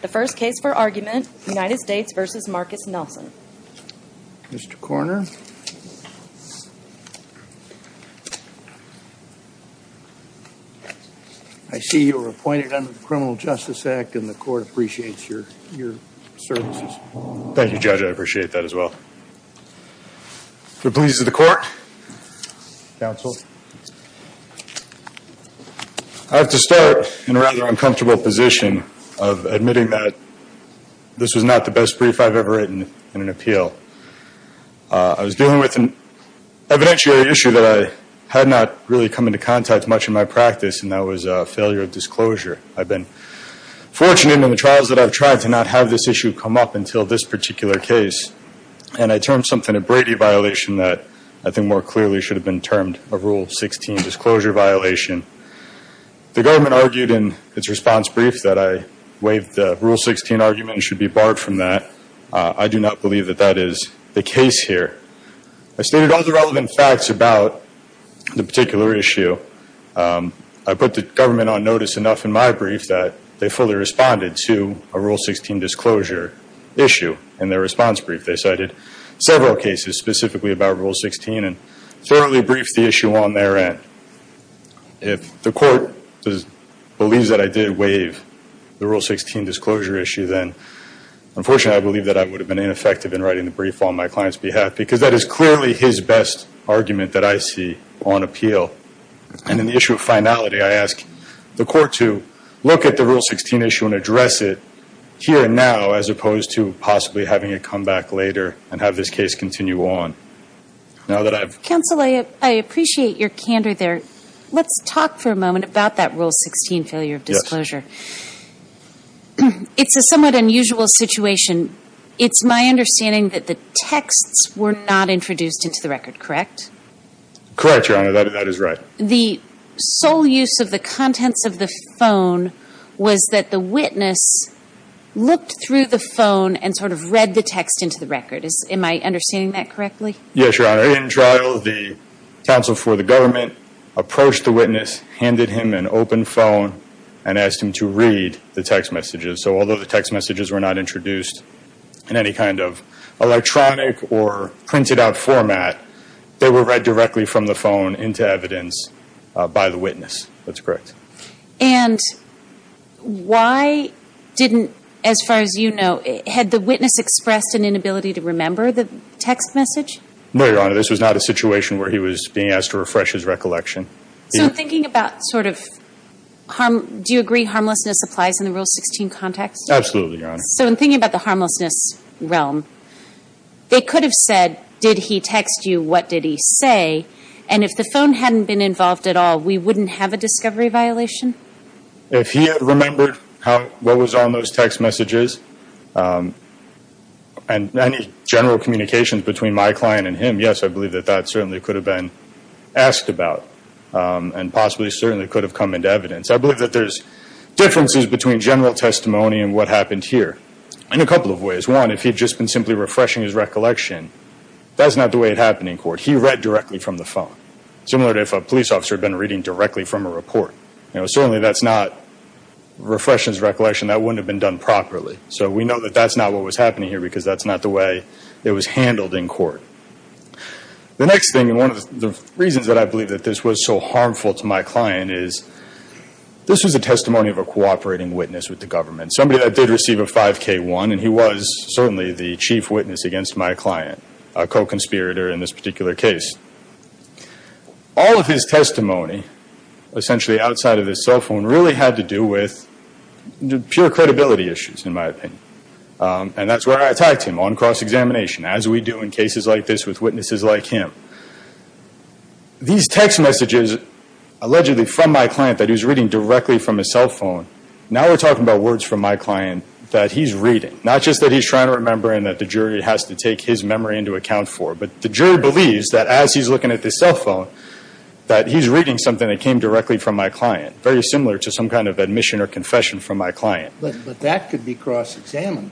The first case for argument, United States v. Marcus Nelson. Mr. Coroner, I see you were appointed under the Criminal Justice Act, and the court appreciates your services. Thank you, Judge. I appreciate that as well. The police of the court. Counsel. I have to start in a rather uncomfortable position of admitting that this was not the best brief I've ever written in an appeal. I was dealing with an evidentiary issue that I had not really come into contact much in my practice, and that was a failure of disclosure. I've been fortunate in the trials that I've tried to not have this issue come up until this particular case, and I termed something a Brady violation that I think more clearly should have been termed a Rule 16 disclosure violation. The government argued in its response brief that I waived the Rule 16 argument and should be barred from that. I do not believe that that is the case here. I stated all the relevant facts about the particular issue. I put the government on notice enough in my brief that they fully responded to a Rule 16 disclosure issue in their response brief. They cited several cases specifically about Rule 16 and thoroughly briefed the issue on their end. If the court believes that I did waive the Rule 16 disclosure issue, then unfortunately I believe that I would have been ineffective in writing the brief on my client's behalf because that is clearly his best argument that I see on appeal. And in the issue of finality, I ask the court to look at the Rule 16 issue and address it here and now as opposed to possibly having it come back later and have this case continue on. Now that I've... Counsel, I appreciate your candor there. Let's talk for a moment about that Rule 16 failure of disclosure. It's a somewhat unusual situation. It's my understanding that the texts were not introduced into the record, correct? Correct, Your Honor. That is right. The sole use of the contents of the phone was that the witness looked through the phone and sort of read the text into the record. Am I understanding that correctly? Yes, Your Honor. In trial, the counsel for the government approached the witness, handed him an open phone, and asked him to read the text messages. So although the text messages were not introduced in any kind of electronic or printed out format, they were read directly from the phone into evidence by the witness. That's correct. And why didn't, as far as you know, had the witness expressed an inability to remember the text message? No, Your Honor. This was not a situation where he was being asked to refresh his recollection. So I'm thinking about sort of harm... Absolutely, Your Honor. So in thinking about the harmlessness realm, they could have said, did he text you? What did he say? And if the phone hadn't been involved at all, we wouldn't have a discovery violation? If he had remembered what was on those text messages and any general communications between my client and him, yes, I believe that that certainly could have been asked about and possibly certainly could have come into evidence. I believe that there's differences between general testimony and what happened here in a couple of ways. One, if he had just been simply refreshing his recollection, that's not the way it happened in court. He read directly from the phone, similar to if a police officer had been reading directly from a report. You know, certainly that's not refreshing his recollection. That wouldn't have been done properly. So we know that that's not what was happening here because that's not the way it was handled in court. The next thing, and one of the reasons that I believe that this was so harmful to my client is this was a testimony of a cooperating witness with the government, somebody that did receive a 5K1, and he was certainly the chief witness against my client, a co-conspirator in this particular case. All of his testimony, essentially outside of his cell phone, really had to do with pure credibility issues, in my opinion. And that's where I attacked him on cross-examination, as we do in cases like this with witnesses like him. These text messages allegedly from my client that he was reading directly from his cell phone, now we're talking about words from my client that he's reading, not just that he's trying to remember and that the jury has to take his memory into account for, but the jury believes that as he's looking at this cell phone, that he's reading something that came directly from my client, very similar to some kind of admission or confession from my client. But that could be cross-examined.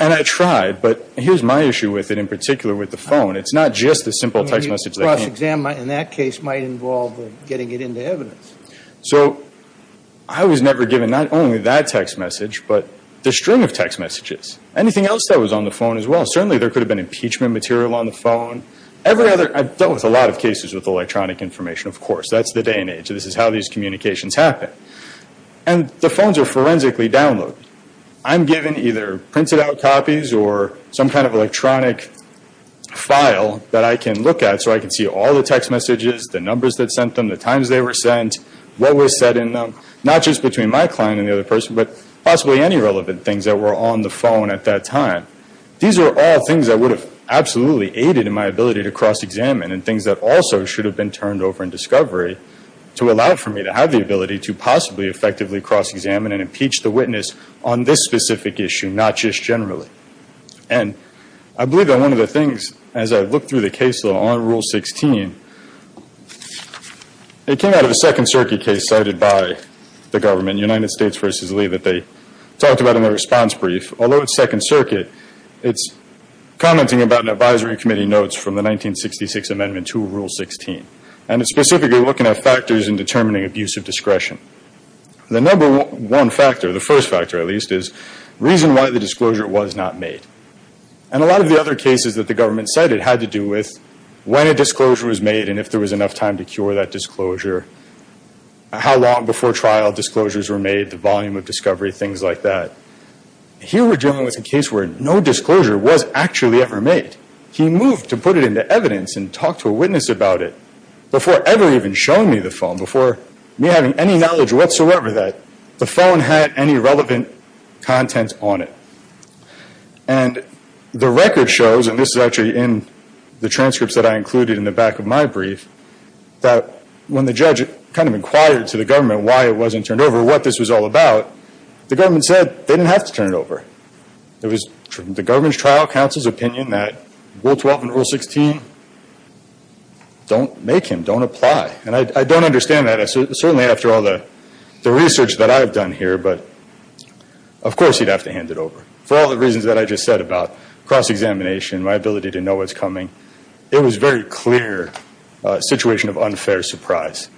And I tried, but here's my issue with it, in particular with the phone. It's not just the simple text message that came. Cross-examined in that case might involve getting it into evidence. So I was never given not only that text message, but the string of text messages. Anything else that was on the phone as well. Certainly there could have been impeachment material on the phone. Every other, I've dealt with a lot of cases with electronic information, of course. That's the day and age. This is how these communications happen. And the phones are forensically downloaded. I'm given either printed out copies or some kind of electronic file that I can look at so I can see all the text messages, the numbers that sent them, the times they were sent, what was said in them, not just between my client and the other person, but possibly any relevant things that were on the phone at that time. These are all things that would have absolutely aided in my ability to cross-examine and things that also should have been turned over in discovery to allow for me to have the ability to possibly effectively cross-examine and impeach the witness on this specific issue, not just generally. And I believe that one of the things, as I look through the case law on Rule 16, it came out of a Second Circuit case cited by the government, United States v. Lee, that they talked about in their response brief. Although it's Second Circuit, it's commenting about an advisory committee notes from the 1966 Amendment to Rule 16. And it's specifically looking at factors in determining abusive discretion. The number one factor, the first factor at least, is reason why the disclosure was not made. And a lot of the other cases that the government cited had to do with when a disclosure was made and if there was enough time to cure that disclosure, how long before trial disclosures were made, the volume of discovery, things like that. Here we're dealing with a case where no disclosure was actually ever made. He moved to put it into evidence and talk to a witness about it before ever even showing me the phone, before me having any knowledge whatsoever that the phone had any relevant content on it. And the record shows, and this is actually in the transcripts that I included in the back of my brief, that when the judge kind of inquired to the government why it wasn't turned over, what this was all about, the government said they didn't have to turn it over. It was the government's trial counsel's opinion that Rule 12 and Rule 16 don't make him, don't apply. And I don't understand that. Certainly after all the research that I've done here, but of course he'd have to hand it over. For all the reasons that I just said about cross-examination, my ability to know what's coming, it was a very clear situation of unfair surprise.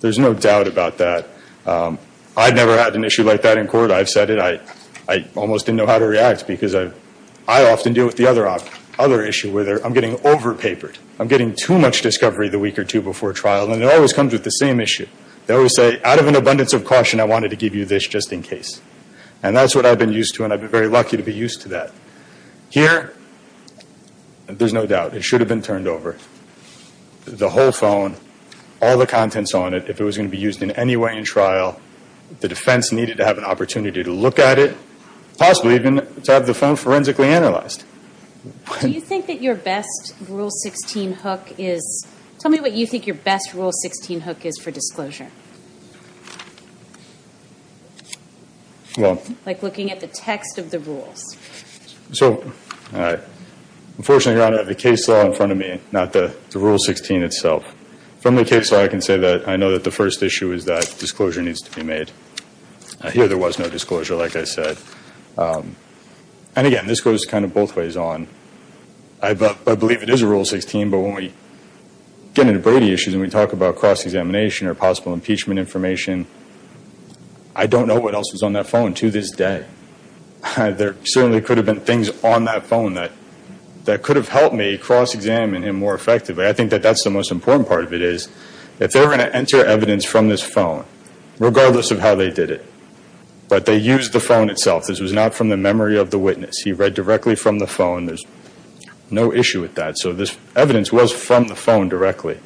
There's no doubt about that. I've never had an issue like that in court. I've said it. I almost didn't know how to react, because I often deal with the other issue, where I'm getting over-papered. I'm getting too much discovery the week or two before trial, and it always comes with the same issue. They always say, out of an abundance of caution, I wanted to give you this just in case. And that's what I've been used to, and I've been very lucky to be used to that. Here, there's no doubt, it should have been turned over. The whole phone, all the contents on it, if it was going to be used in any way in trial, the defense needed to have an opportunity to look at it, possibly even to have the phone forensically analyzed. Do you think that your best Rule 16 hook is, tell me what you think your best Rule 16 hook is for disclosure. Like looking at the text of the rules. So unfortunately, Your Honor, I have the case law in front of me, not the Rule 16 itself. From the case law, I can say that I know that the first issue is that disclosure needs to be made. Here, there was no disclosure, like I said. And again, this goes kind of both ways on. I believe it is a Rule 16, but when we get into Brady issues and we talk about cross-examination or possible impeachment information, I don't know what else was on that phone to this day. There certainly could have been things on that phone that could have helped me cross-examine him more effectively. I think that that's the most important part of it is, if they were going to enter evidence from this phone, regardless of how they did it, but they used the phone itself, this was not from the memory of the witness, he read directly from the phone, there's no issue with that. So this evidence was from the phone directly.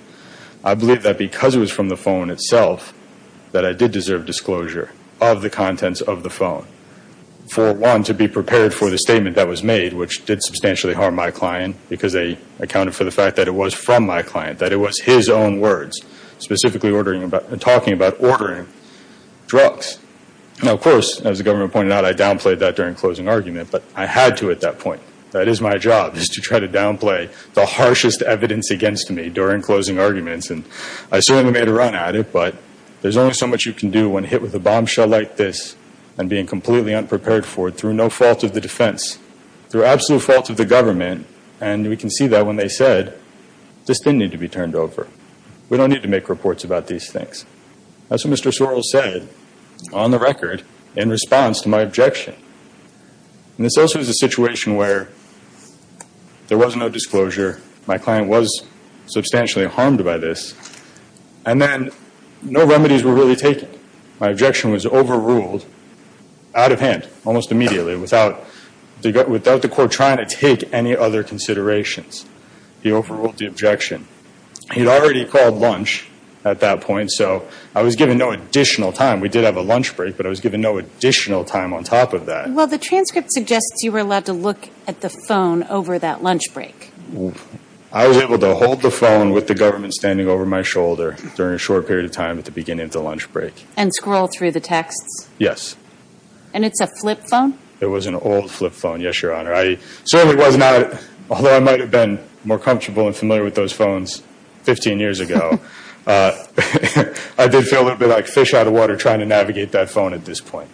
I believe that because it was from the phone itself, that I did deserve disclosure of the contents of the phone. For one, to be prepared for the statement that was made, which did substantially harm my client, because they accounted for the fact that it was from my client, that it was his own words, specifically talking about ordering drugs. Now, of course, as the government pointed out, I downplayed that during closing argument, but I had to at that point. That is my job, is to try to downplay the harshest evidence against me during closing arguments. And I certainly made a run at it, but there's only so much you can do when hit with a bombshell like this and being completely unprepared for it through no fault of the defense, through absolute fault of the government, and we can see that when they said, this didn't need to be turned over. We don't need to make reports about these things. That's what Mr. Sorrell said, on the record, in response to my objection. This also is a situation where there was no disclosure, my client was substantially harmed by this, and then no remedies were really taken. My objection was overruled out of hand, almost immediately, without the court trying to take any other considerations. He overruled the objection. He had already called lunch at that point, so I was given no additional time. We did have a lunch break, but I was given no additional time on top of that. Well, the transcript suggests you were allowed to look at the phone over that lunch break. I was able to hold the phone with the government standing over my shoulder during a short period of time at the beginning of the lunch break. And scroll through the texts? Yes. And it's a flip phone? It was an old flip phone, yes, Your Honor. I certainly was not, although I might have been more comfortable and familiar with those phones 15 years ago, I did feel a little bit like fish out of water trying to navigate that phone at this point.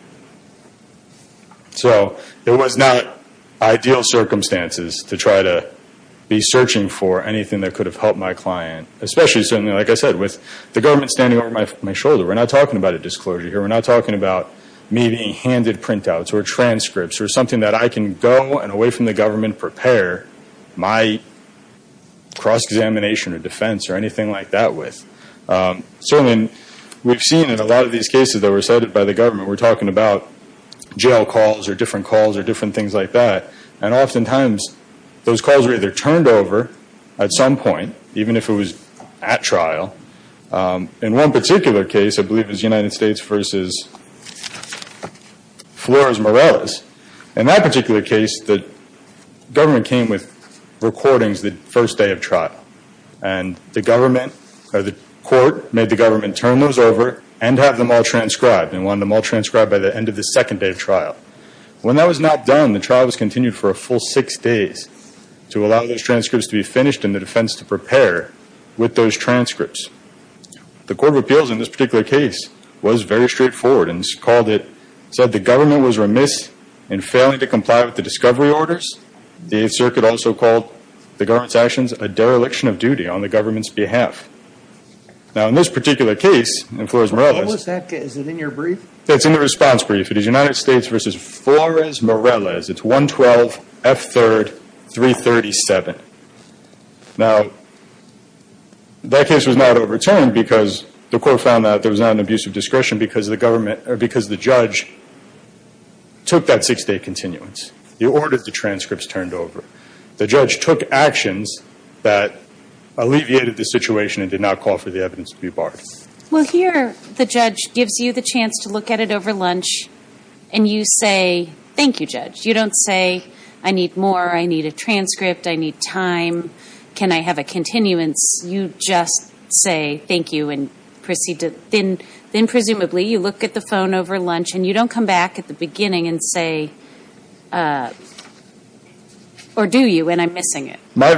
So it was not ideal circumstances to try to be searching for anything that could have helped my client. Especially, like I said, with the government standing over my shoulder, we're not talking about a disclosure here. We're not talking about me being handed printouts or transcripts or something that I can go and away from the government prepare my cross-examination or defense or anything like that with. Certainly, we've seen in a lot of these cases that were cited by the government, we're talking about jail calls or different calls or different things like that. And oftentimes, those calls were either turned over at some point, even if it was at trial. In one particular case, I believe it was United States v. Flores-Morales, in that particular case the government came with recordings the first day of trial. And the government or the court made the government turn those over and have them all transcribed and wanted them all transcribed by the end of the second day of trial. When that was not done, the trial was continued for a full six days to allow those transcripts to be finished and the defense to prepare with those transcripts. The Court of Appeals in this particular case was very straightforward and called it, said the government was remiss in failing to comply with the discovery orders. The Eighth Circuit also called the government's actions a dereliction of duty on the government's behalf. Now, in this particular case, in Flores-Morales... What was that? Is it in your brief? It's in the response brief. It is United States v. Flores-Morales, it's 112 F3rd 337. Now, that case was not overturned because the court found that there was not an abuse of discretion because the government or because the judge took that six-day continuance. He ordered the transcripts turned over. The judge took actions that alleviated the situation and did not call for the evidence to be barred. Well, here the judge gives you the chance to look at it over lunch and you say, thank you, judge. You don't say, I need more, I need a transcript, I need time, can I have a continuance? You just say, thank you, and proceed to, then presumably you look at the phone over lunch and you don't come back at the beginning and say, or do you, and I'm missing it. My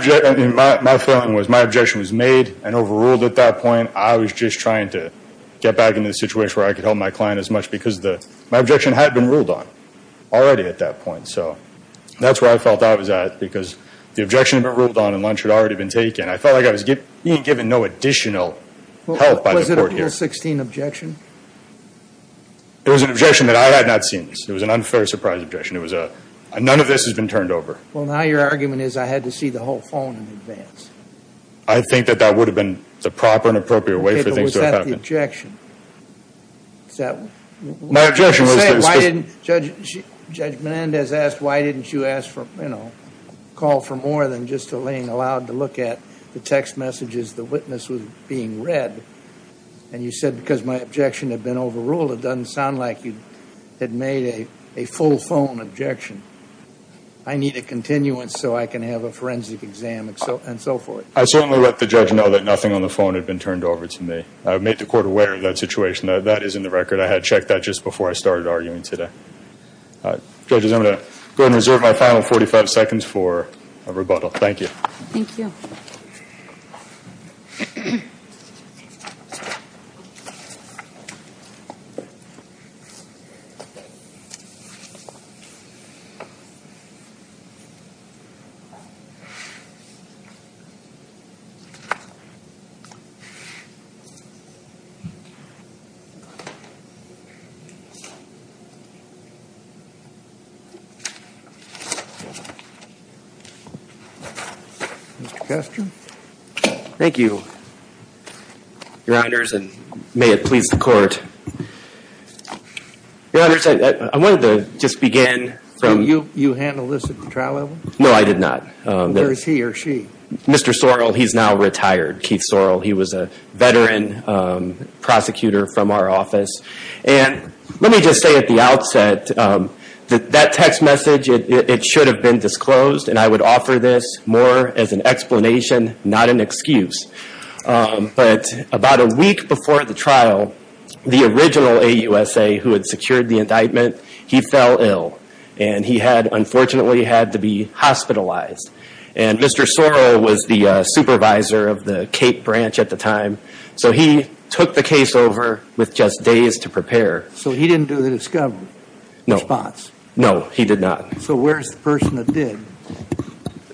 feeling was my objection was made and overruled at that point. I was just trying to get back into the situation where I could help my client as much because the, my objection had been ruled on already at that point. So that's where I felt I was at because the objection had been ruled on and lunch had already been taken. I felt like I was being given no additional help by the court here. Was it an appeal 16 objection? It was an objection that I had not seen. It was an unfair surprise objection. It was a, none of this has been turned over. Well, now your argument is I had to see the whole phone in advance. I think that that would have been the proper and appropriate way for things to have happened. Okay, but was that the objection? Is that? My objection was that. You said, why didn't Judge, Judge Menendez asked, why didn't you ask for, you know, call for more than just a laying aloud to look at the text messages the witness was being read? And you said, because my objection had been overruled, it doesn't sound like you had made a, a full phone objection. I need a continuance so I can have a forensic exam and so forth. I certainly let the judge know that nothing on the phone had been turned over to me. I've made the court aware of that situation. That is in the record. I had checked that just before I started arguing today. Judges, I'm going to go ahead and reserve my final 45 seconds for a rebuttal. Thank you. Thank you. Mr. Guster. Thank you, your honors, and may it please the court. Your honors, I, I wanted to just begin from. You handled this at the trial level? No, I did not. Where is he or she? Mr. Sorrell, he's now retired. Keith Sorrell, he was a veteran prosecutor from our office. And let me just say at the outset that that text message, it, it should have been disclosed and I would offer this more as an explanation, not an excuse. But about a week before the trial, the original AUSA who had secured the indictment, he fell ill. And he had, unfortunately, had to be hospitalized. And Mr. Sorrell was the supervisor of the Cape branch at the time. So he took the case over with just days to prepare. So he didn't do the discovery? No. Response? No, he did not. So where's the person that did?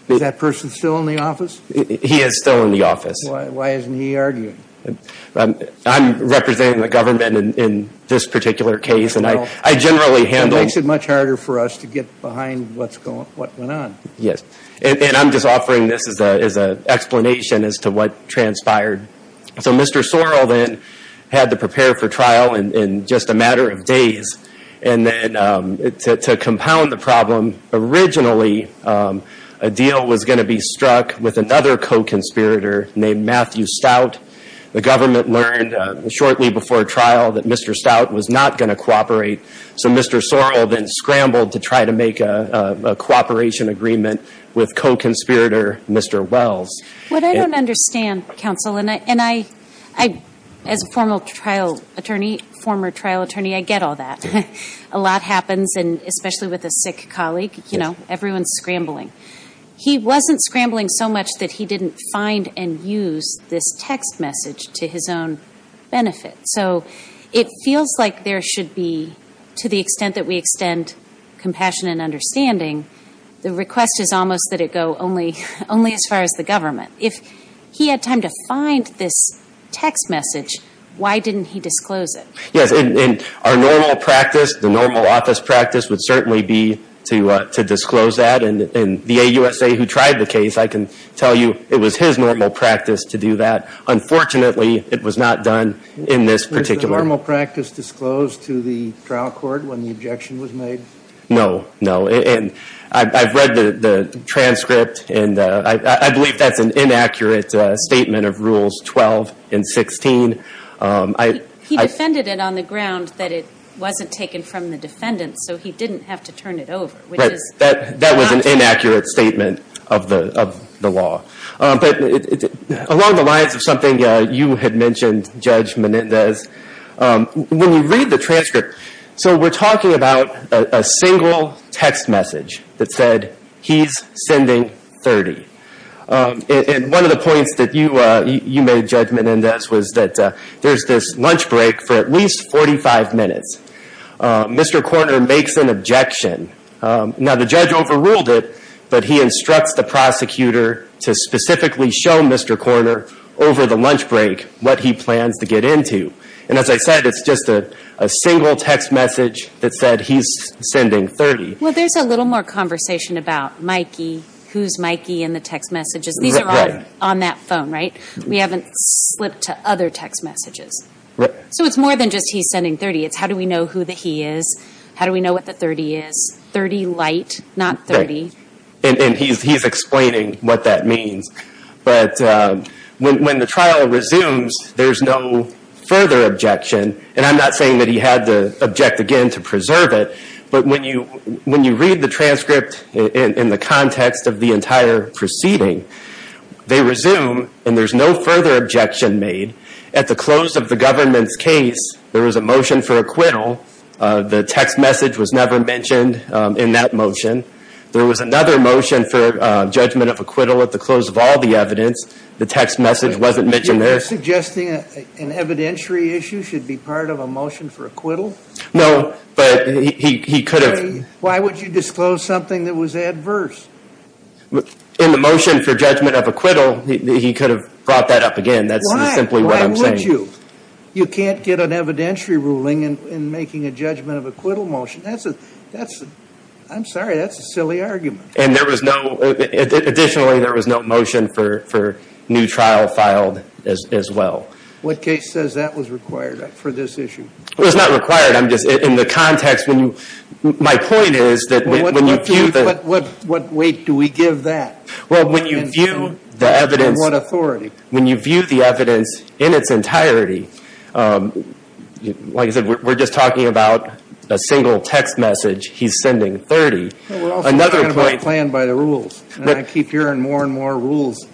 Is that person still in the office? He is still in the office. Why, why isn't he arguing? I'm representing the government in, in this particular case and I, I generally handle. It makes it much harder for us to get behind what's going, what went on. Yes. And, and I'm just offering this as a, as a explanation as to what transpired. So Mr. Sorrell then had to prepare for trial in, in just a matter of days. And then to, to compound the problem, originally a deal was going to be struck with another co-conspirator named Matthew Stout. The government learned shortly before trial that Mr. Stout was not going to cooperate. So Mr. Sorrell then scrambled to try to make a, a cooperation agreement with co-conspirator Mr. Wells. What I don't understand, counsel, and I, and I, I, as a former trial attorney, former trial attorney, I get all that. A lot happens and especially with a sick colleague, you know, everyone's scrambling. He wasn't scrambling so much that he didn't find and use this text message to his own benefit. So it feels like there should be, to the extent that we extend compassion and understanding, the request is almost that it go only, only as far as the government. If he had time to find this text message, why didn't he disclose it? Yes, and, and our normal practice, the normal office practice would certainly be to, to disclose that. And, and the AUSA who tried the case, I can tell you it was his normal practice to do that. Unfortunately, it was not done in this particular. Was the normal practice disclosed to the trial court when the objection was made? No, no. And I, I've read the, the transcript and I, I, I believe that's an inaccurate statement of rules 12 and 16. He, he defended it on the ground that it wasn't taken from the defendant so he didn't have to turn it over. Right. Which is not true. That, that was an inaccurate statement of the, of the law. But along the lines of something you had mentioned, Judge Menendez, when you read the transcript, so we're talking about a, a single text message that said, he's sending 30. And, and one of the points that you, you made, Judge Menendez, was that there's this lunch break for at least 45 minutes. Mr. Korner makes an objection. Now, the judge overruled it, but he instructs the prosecutor to specifically show Mr. Korner over the lunch break what he plans to get into. And as I said, it's just a, a single text message that said, he's sending 30. Well, there's a little more conversation about Mikey, who's Mikey in the text messages. Right. These are all on that phone, right? We haven't slipped to other text messages. Right. So it's more than just, he's sending 30. It's how do we know who the he is? How do we know what the 30 is? 30 light, not 30. Right. And, and he's, he's explaining what that means. But when, when the trial resumes, there's no further objection, and I'm not saying that he had to object again to preserve it, but when you, when you read the transcript in, in the context of the entire proceeding, they resume and there's no further objection made. At the close of the government's case, there was a motion for acquittal. The text message was never mentioned in that motion. There was another motion for judgment of acquittal at the close of all the evidence. The text message wasn't mentioned there. Are you suggesting an evidentiary issue should be part of a motion for acquittal? No, but he, he could have. Why would you disclose something that was adverse? In the motion for judgment of acquittal, he could have brought that up again. That's simply what I'm saying. Why? Why would you? You can't get an evidentiary ruling in, in making a judgment of acquittal motion. That's a, that's a, I'm sorry, that's a silly argument. And there was no, additionally, there was no motion for, for new trial filed as, as well. What case says that was required for this issue? It was not required. I'm just, in the context, when you, my point is that when you view the. What, what weight do we give that? Well, when you view the evidence. And what authority? When you view the evidence in its entirety, like I said, we're just talking about a single text message. He's sending 30. Another point. We're also talking about a plan by the rules. And I keep hearing more and more rules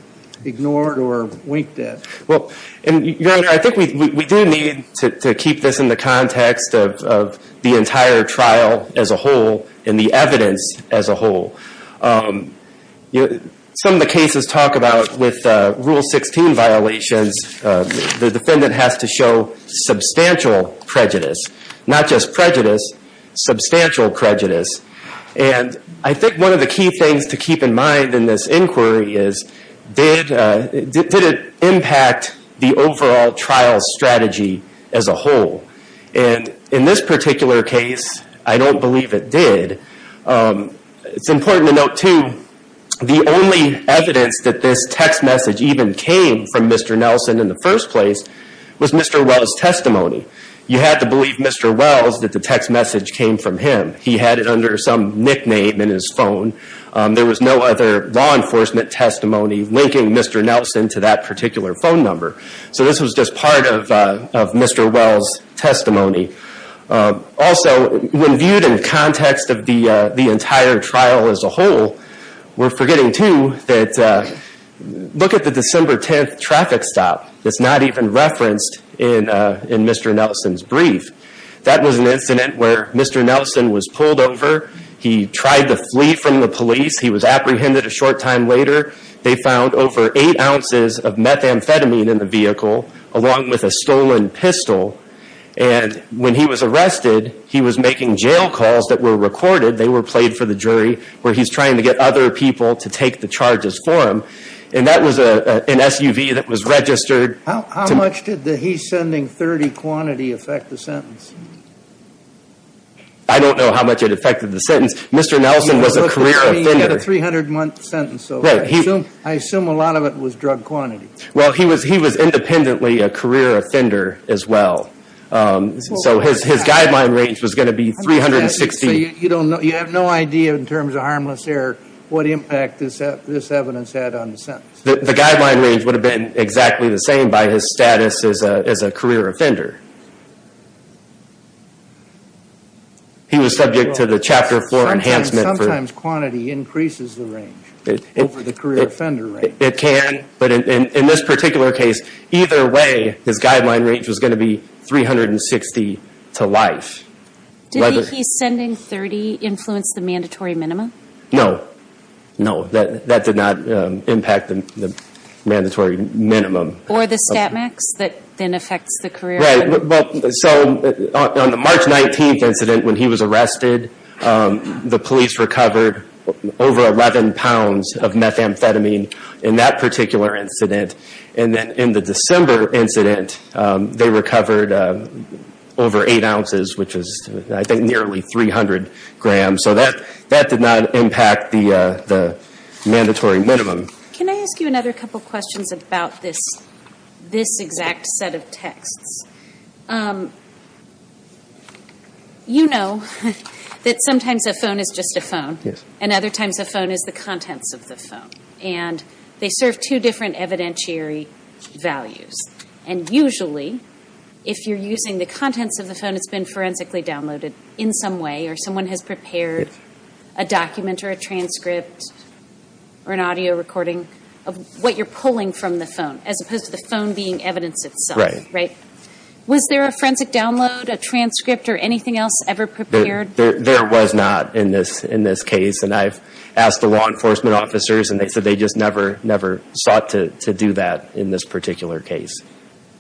ignored or winked at. Well, and your honor, I think we, we do need to keep this in the context of, of the entire trial as a whole and the evidence as a whole. You know, some of the cases talk about with rule 16 violations, the defendant has to show substantial prejudice. Not just prejudice, substantial prejudice. And I think one of the key things to keep in mind in this inquiry is, did, did it impact the overall trial strategy as a whole? And in this particular case, I don't believe it did. It's important to note too, the only evidence that this text message even came from Mr. You had to believe Mr. Wells that the text message came from him. He had it under some nickname in his phone. There was no other law enforcement testimony linking Mr. Nelson to that particular phone number. So this was just part of, of Mr. Wells' testimony. Also, when viewed in context of the, the entire trial as a whole, we're forgetting too, that look at the December 10th traffic stop. It's not even referenced in, in Mr. Nelson's brief. That was an incident where Mr. Nelson was pulled over. He tried to flee from the police. He was apprehended a short time later. They found over eight ounces of methamphetamine in the vehicle, along with a stolen pistol. And when he was arrested, he was making jail calls that were recorded. They were played for the jury, where he's trying to get other people to take the charges for him. And that was a, an SUV that was registered. How much did the he's sending 30 quantity affect the sentence? I don't know how much it affected the sentence. Mr. Nelson was a career offender. You've got a 300 month sentence. So I assume, I assume a lot of it was drug quantity. Well, he was, he was independently a career offender as well. So his, his guideline range was going to be 360. You don't know, you have no idea in terms of harmless error, what impact this, this evidence had on the sentence. The guideline range would have been exactly the same by his status as a, as a career offender. He was subject to the chapter four enhancement. Sometimes quantity increases the range over the career offender range. It can, but in this particular case, either way, his guideline range was going to be 360 to life. Did the he's sending 30 influence the mandatory minima? No, no. That, that did not impact the mandatory minimum. Or the stat max that then affects the career? Right. So on the March 19th incident, when he was arrested, the police recovered over 11 pounds of methamphetamine in that particular incident. And then in the December incident, they recovered over eight ounces, which is I think nearly 300 grams. So that, that did not impact the, the mandatory minimum. Can I ask you another couple questions about this, this exact set of texts? You know that sometimes a phone is just a phone, and other times a phone is the contents of the phone. And they serve two different evidentiary values. And usually, if you're using the contents of the phone, it's been forensically downloaded in some way, or someone has prepared a document or a transcript or an audio recording of what you're pulling from the phone, as opposed to the phone being evidence itself, right? Was there a forensic download, a transcript, or anything else ever prepared? There was not in this, in this case. And I've asked the law enforcement officers, and they said they just never, never sought to do that in this particular case.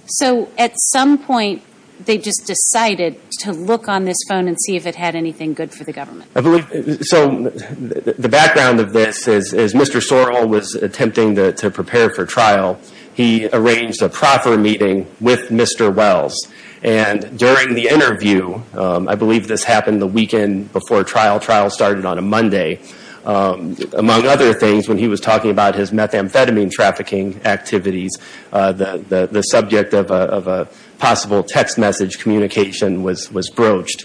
So at some point, they just decided to look on this phone and see if it had anything good for the government? I believe, so, the background of this is, is Mr. Sorrell was attempting to, to prepare for trial. He arranged a proffer meeting with Mr. Wells. And during the interview, I believe this happened the weekend before trial, trial started on a Monday, among other things, when he was talking about his methamphetamine trafficking activities, the, the subject of a, of a possible text message communication was, was broached.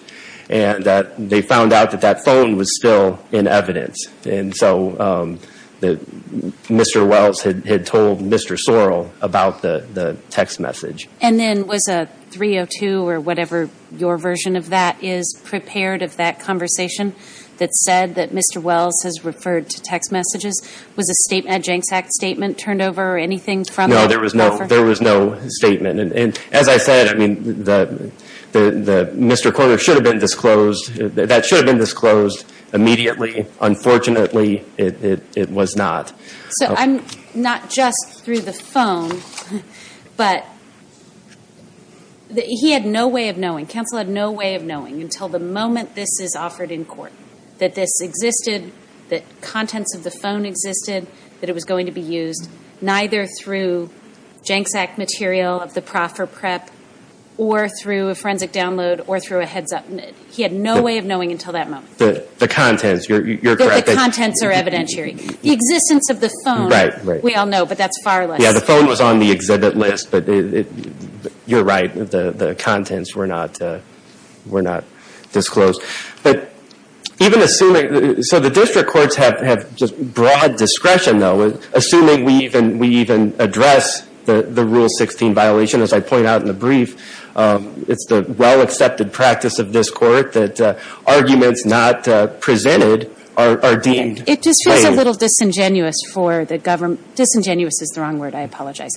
And that, they found out that that phone was still in evidence. And so, the, Mr. Wells had, had told Mr. Sorrell about the, the text message. And then, was a 302, or whatever your version of that is, prepared of that conversation that said that Mr. Wells has referred to text messages? Was a statement, a Jancks Act statement turned over, or anything from the proffer? No, there was no, there was no statement. And, and, as I said, I mean, the, the, the, Mr. Corder should have been disclosed, that should have been disclosed immediately. Unfortunately, it, it, it was not. So I'm, not just through the phone, but, he had no way of knowing, counsel had no way of knowing until the moment this is offered in court, that this existed, that contents of the phone existed, that it was going to be used, neither through Jancks Act material of the proffer prep, or through a forensic download, or through a heads up. He had no way of knowing until that moment. The contents, you're, you're correct. That the contents are evidentiary. The existence of the phone. Right, right. We all know, but that's far less. Yeah, the phone was on the exhibit list, but it, you're right, the, the contents were not, were not disclosed. But, even assuming, so the district courts have, have just broad discretion, though. Assuming we even, we even address the, the Rule 16 violation, as I point out in the brief, it's the well-accepted practice of this court that arguments not presented are, are deemed plain. It just feels a little disingenuous for the government, disingenuous is the wrong word, I apologize.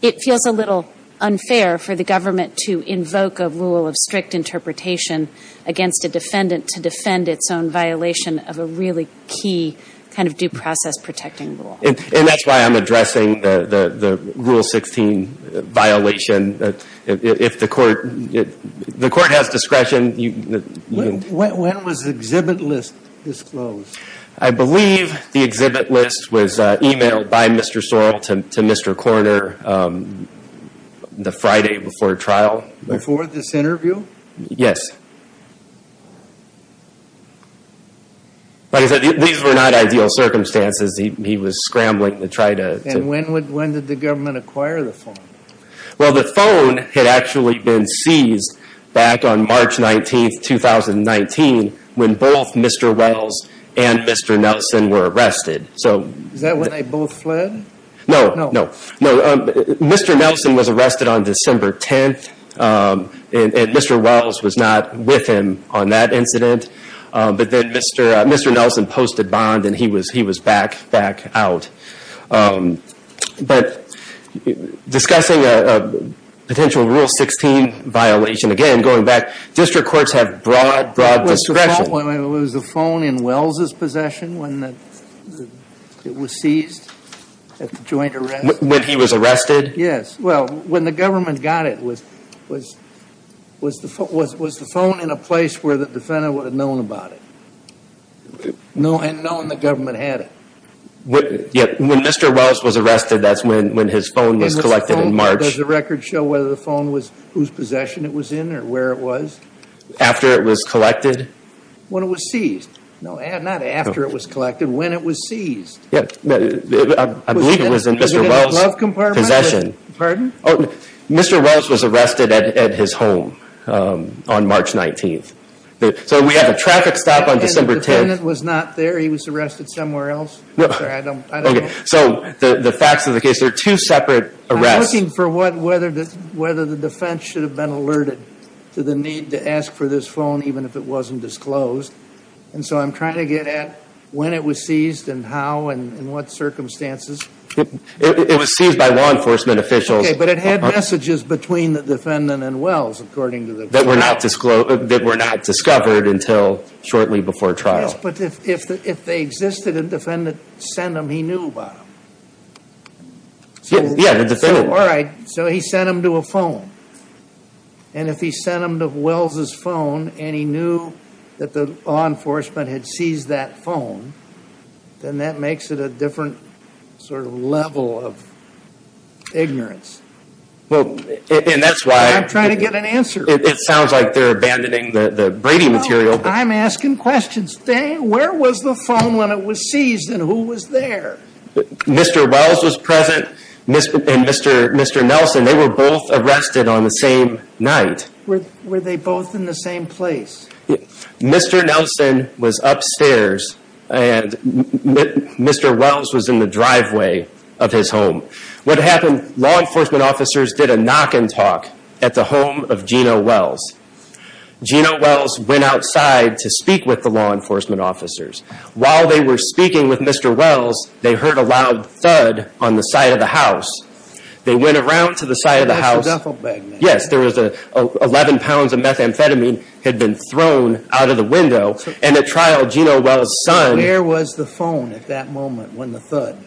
It feels a little unfair for the government to invoke a rule of strict interpretation against a defendant to defend its own violation of a really key kind of due process protecting rule. And, and that's why I'm addressing the, the, the Rule 16 violation. If the court, if the court has discretion, you, you. When was the exhibit list disclosed? I believe the exhibit list was emailed by Mr. Sorrell to, to Mr. Korner the Friday before trial. Before this interview? Yes. Like I said, these were not ideal circumstances, he, he was scrambling to try to. And when would, when did the government acquire the phone? Well, the phone had actually been seized back on March 19th, 2019, when both Mr. Wells and Mr. Nelson were arrested. So. Is that when they both fled? No. No. No. So, Mr. Nelson was arrested on December 10th and Mr. Wells was not with him on that incident. But then Mr. Nelson posted bond and he was, he was back, back out. But discussing a potential Rule 16 violation, again, going back, district courts have broad, broad discretion. What was the phone in Wells' possession when it was seized at the joint arrest? When he was arrested? Yes. Well, when the government got it, was, was, was the phone, was, was the phone in a place where the defendant would have known about it? No, and known the government had it. Yeah. When Mr. Wells was arrested, that's when, when his phone was collected in March. Does the record show whether the phone was whose possession it was in or where it was? After it was collected? When it was seized? No, not after it was collected, when it was seized. Yeah, I believe it was in Mr. Wells' possession. Was it in the glove compartment? Pardon? Oh, no. Mr. Wells was arrested at his home on March 19th. So we have a traffic stop on December 10th. And the defendant was not there, he was arrested somewhere else? I'm sorry, I don't, I don't know. So the, the facts of the case, there are two separate arrests. I'm looking for what, whether, whether the defense should have been alerted to the need to ask for this phone, even if it wasn't disclosed. And so I'm trying to get at when it was seized and how and what circumstances. It was seized by law enforcement officials. Okay. But it had messages between the defendant and Wells, according to the. That were not disclosed, that were not discovered until shortly before trial. Yes, but if, if, if they existed and the defendant sent them, he knew about them. Yeah, the defendant. All right. So he sent them to a phone. And if he sent them to Wells's phone and he knew that the law enforcement had seized that phone, then that makes it a different sort of level of ignorance. Well, and that's why. I'm trying to get an answer. It sounds like they're abandoning the, the Brady material. I'm asking questions. Where was the phone when it was seized and who was there? Mr. Wells was present. Mr. Nelson, they were both arrested on the same night. Were they both in the same place? Mr. Nelson was upstairs and Mr. Wells was in the driveway of his home. What happened? Law enforcement officers did a knock and talk at the home of Gina Wells. Gina Wells went outside to speak with the law enforcement officers. While they were speaking with Mr. Wells, they heard a loud thud on the side of the house. They went around to the side of the house. Yes, there was a 11 pounds of methamphetamine had been thrown out of the window. And at trial, Gina Wells' son. Where was the phone at that moment when the thud?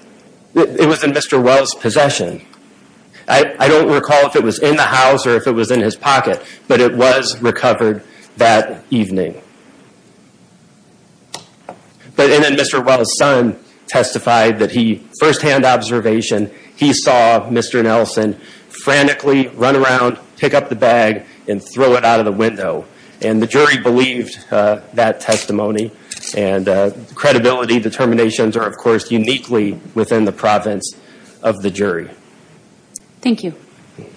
It was in Mr. Wells' possession. I don't recall if it was in the house or if it was in his pocket, but it was recovered that evening. And then Mr. Wells' son testified that he, first hand observation, he saw Mr. Nelson frantically run around, pick up the bag and throw it out of the window. And the jury believed that testimony and credibility determinations are of course uniquely within the province of the jury. Thank you. Thank you.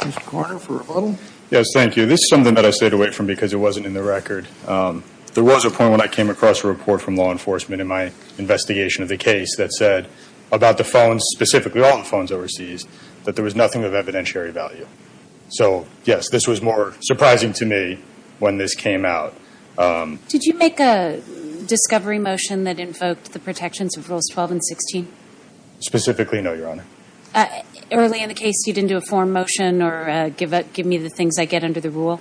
Mr. Corner for rebuttal. Yes, thank you. This is something that I stayed away from because it wasn't in the record. There was a point when I came across a report from law enforcement in my investigation of the case that said about the phones, specifically all the phones overseas, that there was nothing of evidentiary value. So yes, this was more surprising to me when this came out. Did you make a discovery motion that invoked the protections of rules 12 and 16? Specifically, no, Your Honor. Early in the case, you didn't do a form motion or give me the things I get under the rule?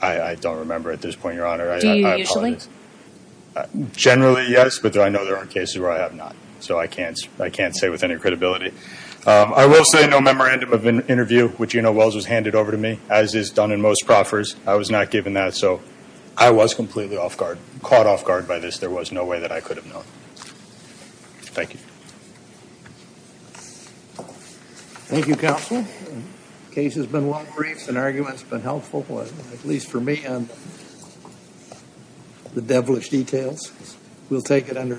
I don't remember at this point, Your Honor. Do you usually? I apologize. Generally, yes, but I know there are cases where I have not. So I can't say with any credibility. I will say no memorandum of interview, which you know Wells was handed over to me, as is done in most proffers. I was not given that. So I was completely caught off guard by this. There was no way that I could have known. Thank you. Thank you, counsel. The case has been well briefed and the argument has been helpful, at least for me, on the devilish details. We'll take it under advisement. All right.